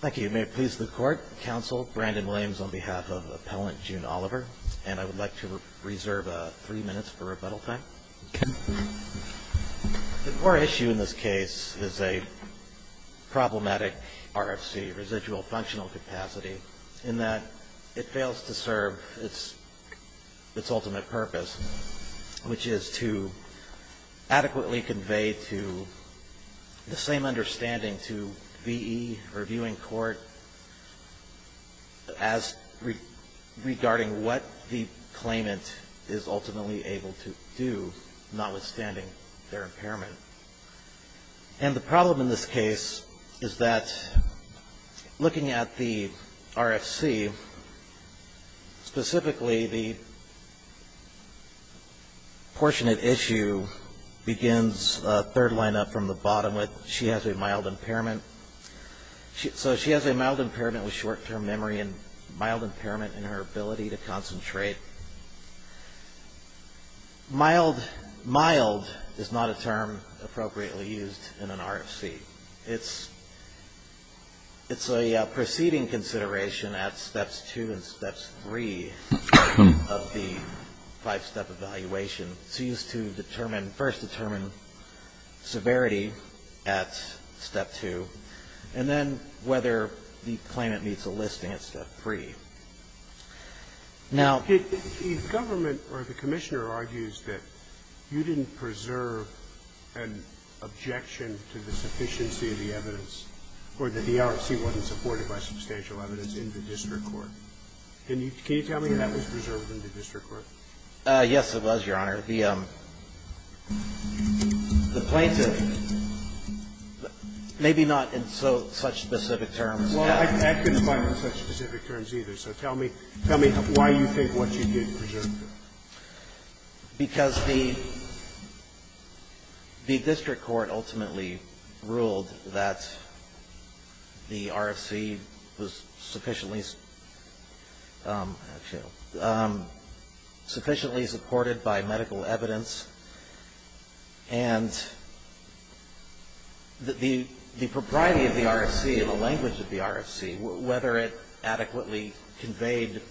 Thank you. May it please the Court, Counsel Brandon Williams on behalf of Appellant June Oliver, and I would like to reserve three minutes for rebuttal time. Okay. The core issue in this case is a problematic RFC, residual functional capacity, in that it fails to serve its ultimate purpose, which is to adequately convey to the same understanding to V.E. or viewing court as regarding what the claimant is ultimately able to do, notwithstanding their impairment. And the problem in this case is that looking at the RFC, specifically the portion of issue begins a third line up from the bottom with she has a mild impairment. So she has a mild impairment with short-term memory and mild impairment in her ability to concentrate. Mild is not a term appropriately used in an RFC. It's a proceeding consideration at Steps 2 and Steps 3 of the five-step evaluation. It's used to first determine severity at Step 2, and then whether the claimant meets a listing at Step 3. Now the government or the commissioner argues that you didn't preserve an objection to the sufficiency of the evidence or that the RFC wasn't supported by substantial evidence in the district court. Can you tell me that was preserved in the district court? Yes, it was, Your Honor. The plaintiff, maybe not in such specific terms. Well, I couldn't find it in such specific terms either, so tell me why you think what you did preserved it. Because the district court ultimately ruled that the RFC was sufficiently supported by medical evidence, and the propriety of the RFC and the language of the RFC, whether it adequately conveyed the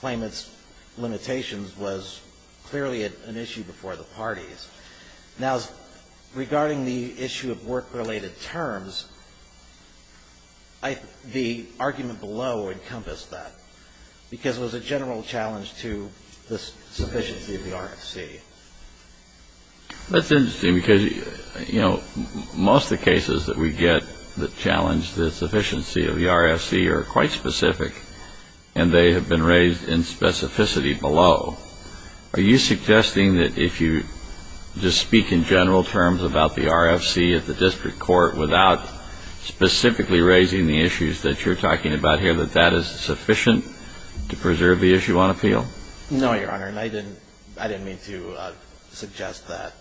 claimant's limitations, was clearly an issue before the parties. Now, regarding the issue of work-related terms, the argument below encompassed that, because it was a general challenge to the sufficiency of the RFC. That's interesting, because, you know, most of the cases that we get that challenge the sufficiency of the RFC are quite specific, and they have been raised in specificity below. Are you suggesting that if you just speak in general terms about the RFC at the district court without specifically raising the issues that you're talking about here, that that is sufficient to preserve the issue on appeal? No, Your Honor, and I didn't mean to suggest that.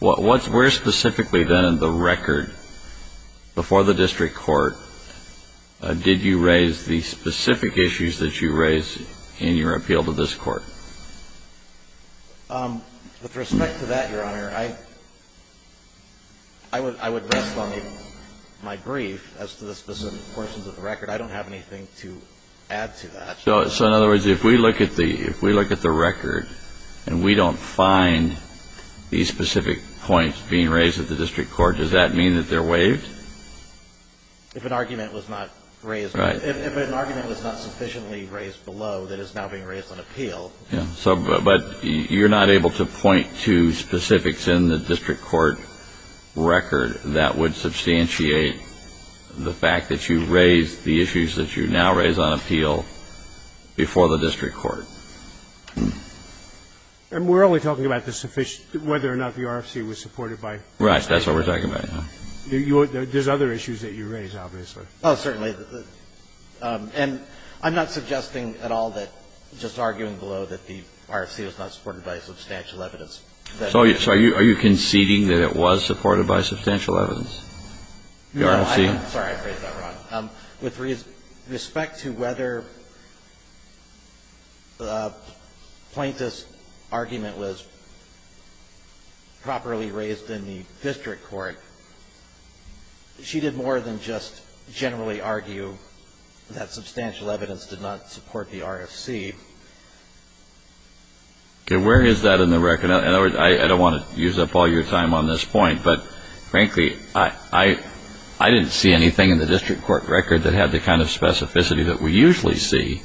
Well, where specifically, then, in the record before the district court did you raise the specific issues that you raised in your appeal to this court? With respect to that, Your Honor, I would rest on my brief as to the specific portions of the record. I don't have anything to add to that. So, in other words, if we look at the record and we don't find these specific points being raised at the district court, does that mean that they're waived? If an argument was not sufficiently raised below that is now being raised on appeal. Yeah, but you're not able to point to specifics in the district court record that would substantiate the fact that you raised the issues that you now raise on appeal. And we're only talking about the sufficient – whether or not the RFC was supported by the district court. Right. That's what we're talking about, yeah. There's other issues that you raised, obviously. Oh, certainly. And I'm not suggesting at all that just arguing below that the RFC was not supported by substantial evidence. So are you conceding that it was supported by substantial evidence, the RFC? No. Sorry, I phrased that wrong. With respect to whether the plaintiff's argument was properly raised in the district court, she did more than just generally argue that substantial evidence did not support the RFC. Okay, where is that in the record? In other words, I don't want to use up all your time on this point. But frankly, I didn't see anything in the district court record that had the kind of specificity that we usually see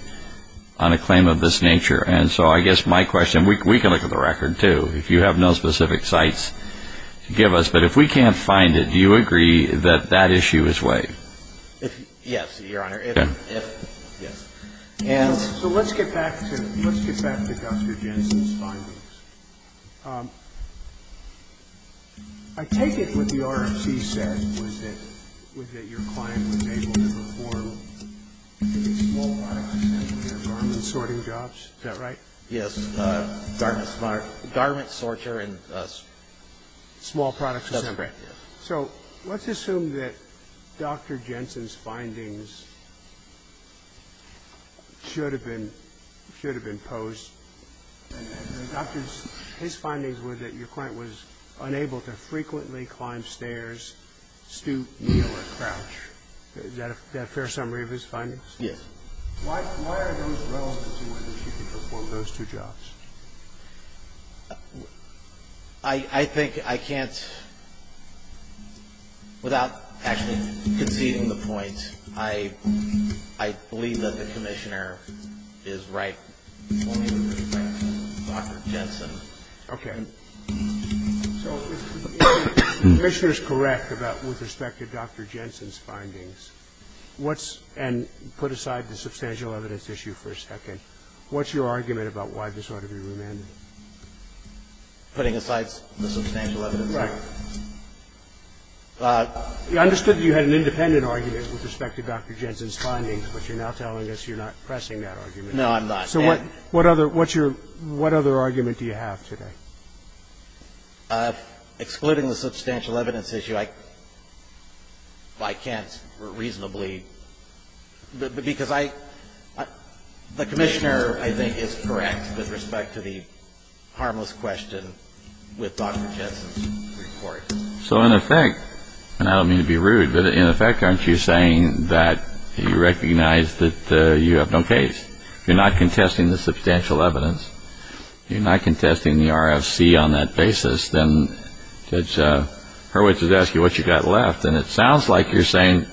on a claim of this nature. And so I guess my question – we can look at the record, too, if you have no specific sites to give us. But if we can't find it, do you agree that that issue is waived? Yes, Your Honor, if – yes. So let's get back to – let's get back to Dr. Jensen's findings. I take it what the RFC said was that your client was able to perform small products and their garment sorting jobs. Is that right? Yes. Garment smart – garment sorter and small products. That's correct, yes. So let's assume that Dr. Jensen's findings should have been – should have been posed. And the doctor's – his findings were that your client was unable to frequently climb stairs, stoop, kneel, or crouch. Is that a fair summary of his findings? Yes. Why are those relevant to whether she could perform those two jobs? I think I can't – without actually conceding the point, I believe that the commissioner is right only with respect to Dr. Jensen. Okay. So if the commissioner is correct about – with respect to Dr. Jensen's findings, what's – and put aside the substantial evidence issue for a second, what's your argument about why this ought to be remanded? Putting aside the substantial evidence issue? Right. I understood that you had an independent argument with respect to Dr. Jensen's findings, but you're now telling us you're not pressing that argument. No, I'm not. So what – what other – what's your – what other argument do you have today? Excluding the substantial evidence issue, I can't reasonably – because I – the commissioner, I think, is correct with respect to the harmless question with Dr. Jensen's report. So in effect – and I don't mean to be rude, but in effect, aren't you saying that you recognize that you have no case? You're not contesting the substantial evidence. You're not contesting the RFC on that basis. Then Judge Hurwitz is asking what you've got left, and it sounds like you're saying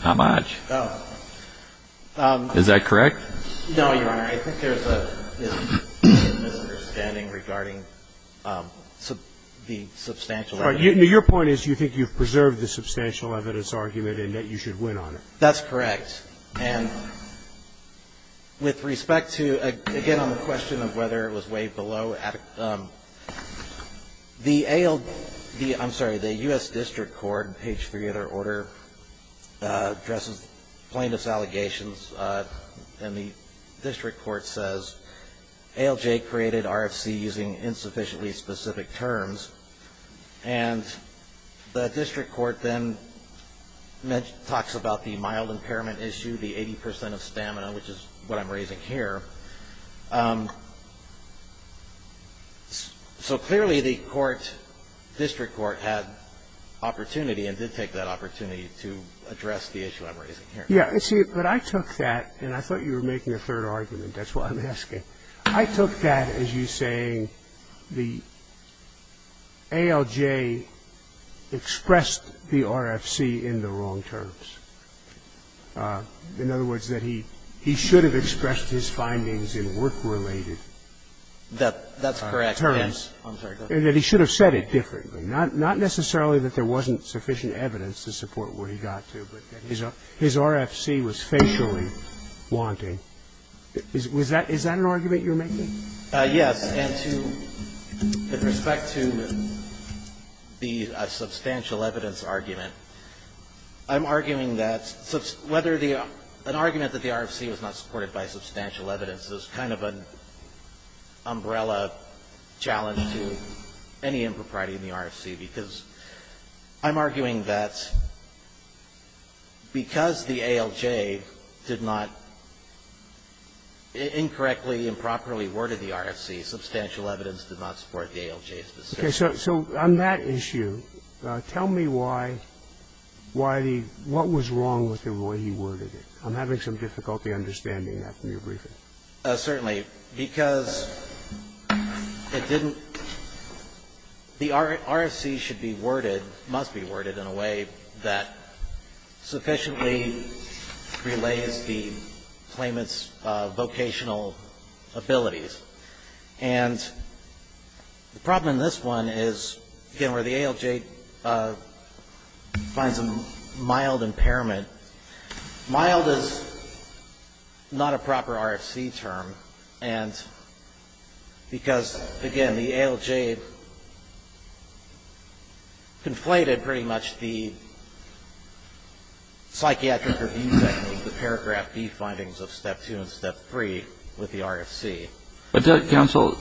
how much. Oh. Is that correct? No, Your Honor. I think there's a misunderstanding regarding the substantial evidence. Your point is you think you've preserved the substantial evidence argument and that you should win on it. That's correct. And with respect to – again, on the question of whether it was weighed below, the AL – I'm sorry, the U.S. District Court, page 3 of their order, addresses plaintiff's allegations, and the district court says ALJ created RFC using insufficiently specific terms. And the district court then talks about the mild impairment issue, the 80 percent of stamina, which is what I'm raising here. So clearly the court – district court had opportunity and did take that opportunity to address the issue I'm raising here. Yeah. See, but I took that – and I thought you were making a third argument. That's why I'm asking. I took that as you saying the ALJ expressed the RFC in the wrong terms. In other words, that he should have expressed his findings in work-related terms. That's correct. And that he should have said it differently. Not necessarily that there wasn't sufficient evidence to support where he got to, but that his RFC was facially wanting. Is that an argument you're making? Yes. And to – with respect to the substantial evidence argument, I'm arguing that whether the – an argument that the RFC was not supported by substantial evidence is kind of an umbrella challenge to any impropriety in the RFC, because I'm arguing that because the ALJ did not incorrectly, improperly worded the RFC, substantial evidence did not support the ALJ specifically. Okay. So on that issue, tell me why the – what was wrong with the way he worded it. I'm having some difficulty understanding that from your briefing. Certainly. Because it didn't – the RFC should be worded, must be worded in a way that sufficiently relays the claimant's vocational abilities. And the problem in this one is, again, where the ALJ finds a mild impairment. Mild is not a proper RFC term. And because, again, the ALJ conflated pretty much the psychiatric review technique, the paragraph B findings of Step 2 and Step 3 with the RFC. Counsel,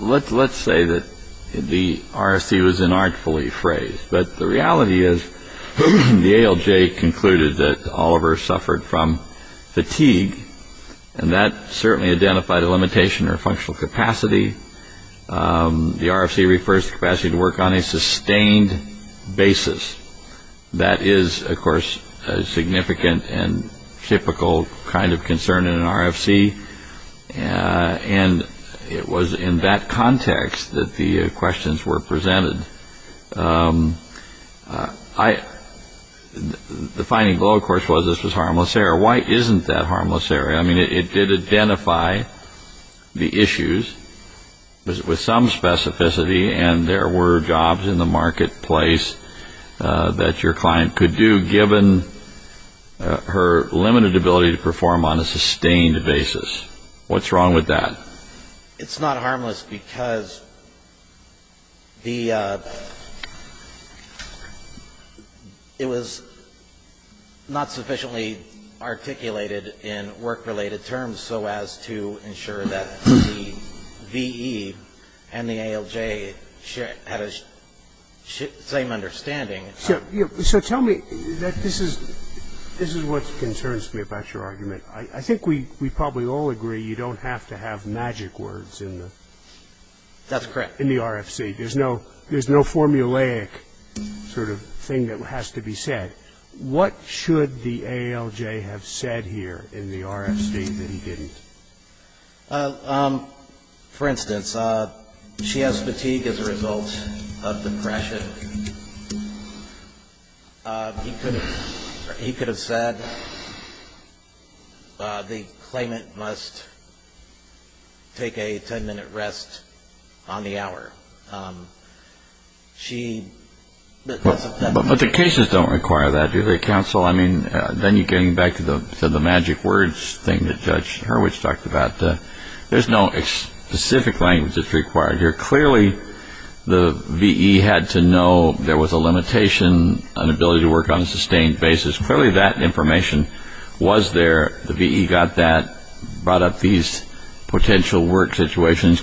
let's say that the RFC was inartfully phrased. But the reality is the ALJ concluded that Oliver suffered from fatigue, and that certainly identified a limitation or functional capacity. The RFC refers to capacity to work on a sustained basis. That is, of course, a significant and typical kind of concern in an RFC. And it was in that context that the questions were presented. The finding below, of course, was this was harmless error. Why isn't that harmless error? I mean, it did identify the issues with some specificity, and there were jobs in the marketplace that your client could do, but it didn't mention her limited ability to perform on a sustained basis. What's wrong with that? It's not harmless because it was not sufficiently articulated in work-related terms so as to ensure that the VE and the ALJ had the same understanding. So tell me, this is what concerns me about your argument. I think we probably all agree you don't have to have magic words in the RFC. That's correct. There's no formulaic sort of thing that has to be said. What should the ALJ have said here in the RFC that he didn't? For instance, she has fatigue as a result of depression. He could have said the claimant must take a 10-minute rest on the hour. But the cases don't require that, do they, counsel? I mean, then you're getting back to the magic words thing that Judge Hurwitz talked about. There's no specific language that's required here. Clearly the VE had to know there was a limitation on ability to work on a sustained basis. Clearly that information was there. The VE got that, brought up these potential work situations.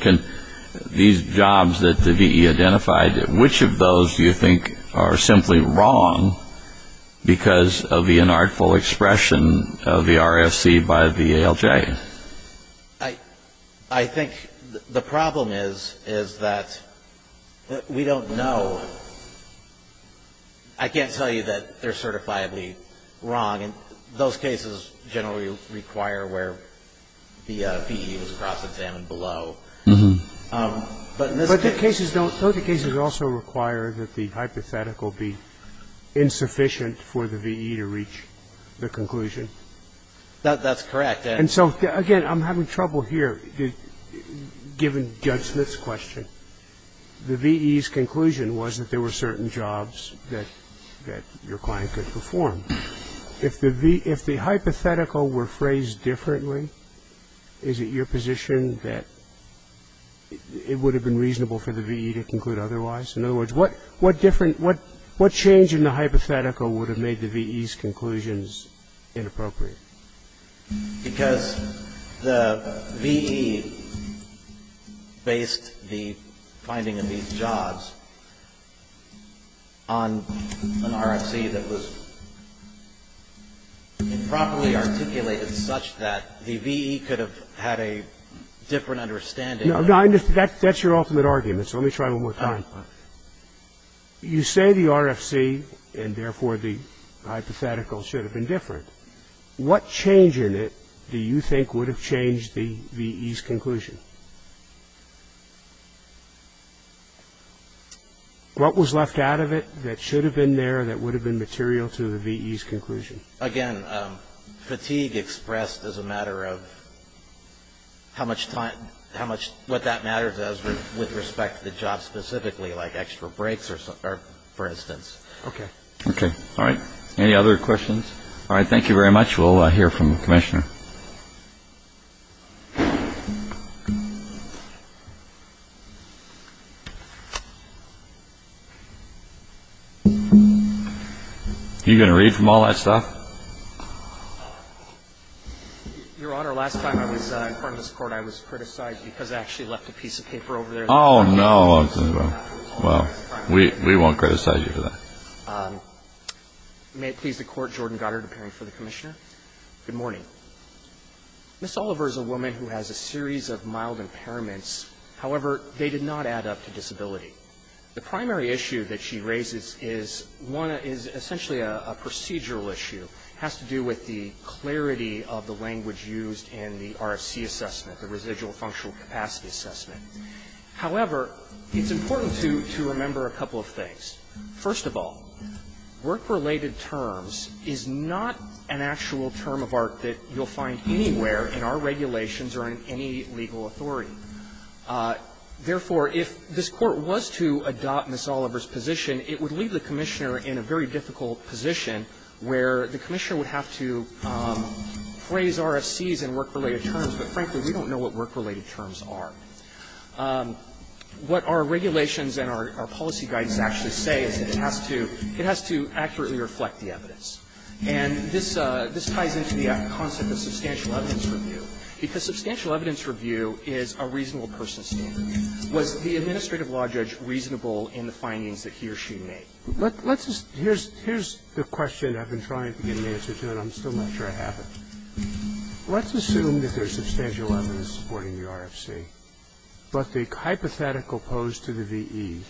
These jobs that the VE identified, which of those do you think are simply wrong because of the inartful expression of the RFC by the ALJ? I think the problem is that we don't know. I can't tell you that they're certifiably wrong. Those cases generally require where the VE was cross-examined below. But those cases also require that the hypothetical be insufficient for the VE to reach the conclusion. That's correct. And so, again, I'm having trouble here, given Judge Smith's question. The VE's conclusion was that there were certain jobs that your client could perform. If the hypothetical were phrased differently, is it your position that it would have been reasonable for the VE to conclude otherwise? In other words, what change in the hypothetical would have made the VE's conclusions inappropriate? Because the VE based the finding of these jobs on an RFC that was improperly articulated such that the VE could have had a different understanding. No, I understand. That's your ultimate argument, so let me try one more time. You say the RFC, and therefore the hypothetical, should have been different. What change in it do you think would have changed the VE's conclusion? What was left out of it that should have been there that would have been material to the VE's conclusion? Again, fatigue expressed as a matter of how much time, what that matters as with respect to the job specifically, like extra breaks, for instance. Okay. Okay. Any other questions? All right. Thank you very much. We'll hear from the Commissioner. Are you going to read from all that stuff? Your Honor, last time I was in front of this Court, I was criticized because I actually left a piece of paper over there. Well, we won't criticize you for that. May it please the Court, Jordan Goddard, appearing for the Commissioner. Good morning. Ms. Oliver is a woman who has a series of mild impairments. However, they did not add up to disability. The primary issue that she raises is one that is essentially a procedural issue, has to do with the clarity of the language used in the RFC assessment, the residual functional capacity assessment. However, it's important to remember a couple of things. First of all, work-related terms is not an actual term of art that you'll find anywhere in our regulations or in any legal authority. Therefore, if this Court was to adopt Ms. Oliver's position, it would leave the Commissioner in a very difficult position where the Commissioner would have to phrase RFCs in work-related terms, but frankly, we don't know what work-related terms are. What our regulations and our policy guidance actually say is that it has to accurately reflect the evidence. And this ties into the concept of substantial evidence review, because substantial evidence review is a reasonable person's standard. Was the administrative law judge reasonable in the findings that he or she made? Let's just – here's the question I've been trying to get an answer to, and I'm still not sure I have it. Let's assume that there's substantial evidence supporting the RFC, but the hypothetical pose to the V.E.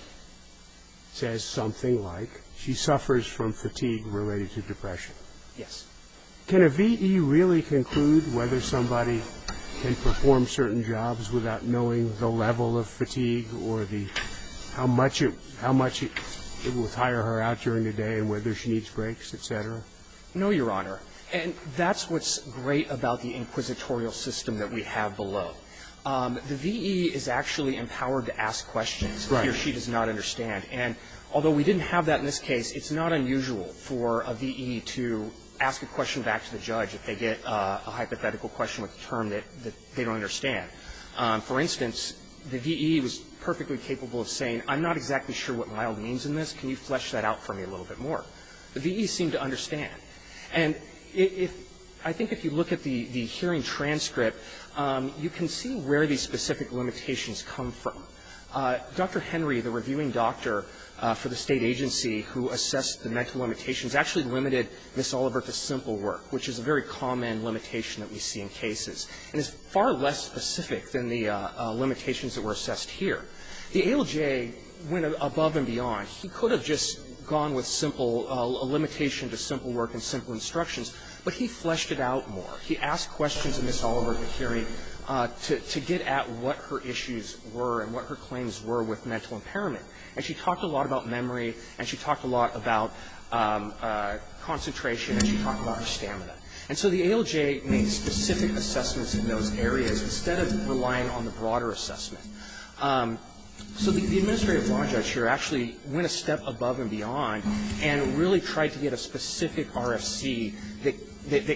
says something like she suffers from fatigue related to depression. Yes. Can a V.E. really conclude whether somebody can perform certain jobs without knowing the level of fatigue or the – how much it will tire her out during the day and whether she needs breaks, et cetera? No, Your Honor. And that's what's great about the inquisitorial system that we have below. The V.E. is actually empowered to ask questions if he or she does not understand. And although we didn't have that in this case, it's not unusual for a V.E. to ask a question back to the judge if they get a hypothetical question with a term that they don't understand. For instance, the V.E. was perfectly capable of saying, I'm not exactly sure what mild means in this. Can you flesh that out for me a little bit more? The V.E. seemed to understand. And if – I think if you look at the hearing transcript, you can see where the specific limitations come from. Dr. Henry, the reviewing doctor for the State agency who assessed the mental limitations, actually limited Ms. Oliver to simple work, which is a very common limitation that we see in cases and is far less specific than the limitations that were assessed here. The ALJ went above and beyond. He could have just gone with simple – a limitation to simple work and simple instructions, but he fleshed it out more. He asked questions of Ms. Oliver at the hearing to get at what her issues were and what her claims were with mental impairment. And she talked a lot about memory, and she talked a lot about concentration, and she talked about her stamina. And so the ALJ made specific assessments in those areas instead of relying on the broader assessment. So the administrative law judge here actually went a step above and beyond and really tried to get a specific RFC that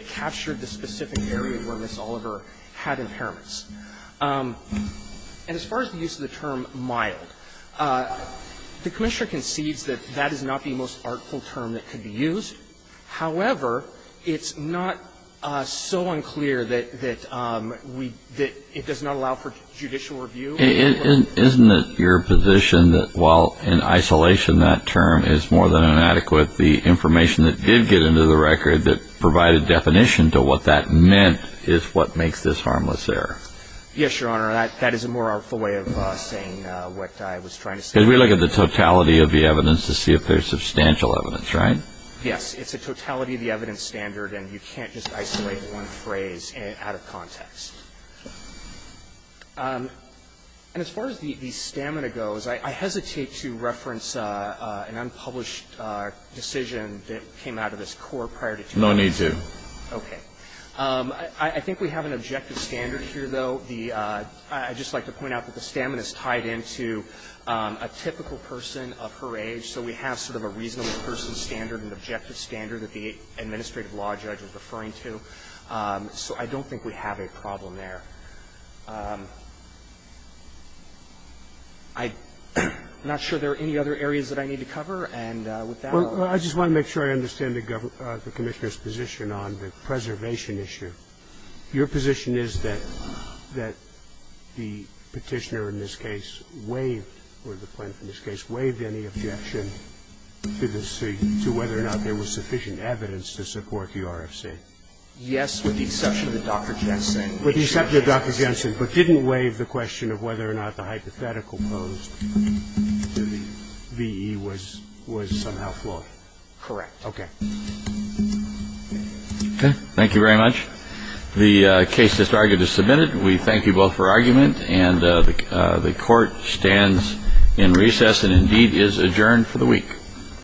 captured the specific area where Ms. Oliver had impairments. And as far as the use of the term mild, the Commissioner concedes that that is not the most artful term that could be used. However, it's not so unclear that we – that it does not allow for judicial review. Isn't it your position that while in isolation that term is more than inadequate, the information that did get into the record that provided definition to what that meant is what makes this harmless error? Yes, Your Honor. That is a more artful way of saying what I was trying to say. Because we look at the totality of the evidence to see if there's substantial evidence, right? Yes. It's a totality of the evidence standard, and you can't just isolate one phrase out of context. And as far as the stamina goes, I hesitate to reference an unpublished decision that came out of this court prior to 2002. No need to. Okay. I think we have an objective standard here, though. The – I'd just like to point out that the stamina is tied into a typical person of her age, so we have sort of a reasonable person standard, an objective standard that the administrative law judge is referring to. So I don't think we have a problem there. I'm not sure there are any other areas that I need to cover, and with that I'll let you go. Well, I just want to make sure I understand the Commissioner's position on the preservation issue. Your position is that the Petitioner in this case waived, or the plaintiff to support the RFC? Yes, with the exception of Dr. Jensen. With the exception of Dr. Jensen, but didn't waive the question of whether or not the hypothetical posed to the V.E. was somehow flawed? Correct. Okay. Okay. Thank you very much. The case is argued as submitted. We thank you both for argument, and the Court stands in recess and, indeed, is adjourned for the week.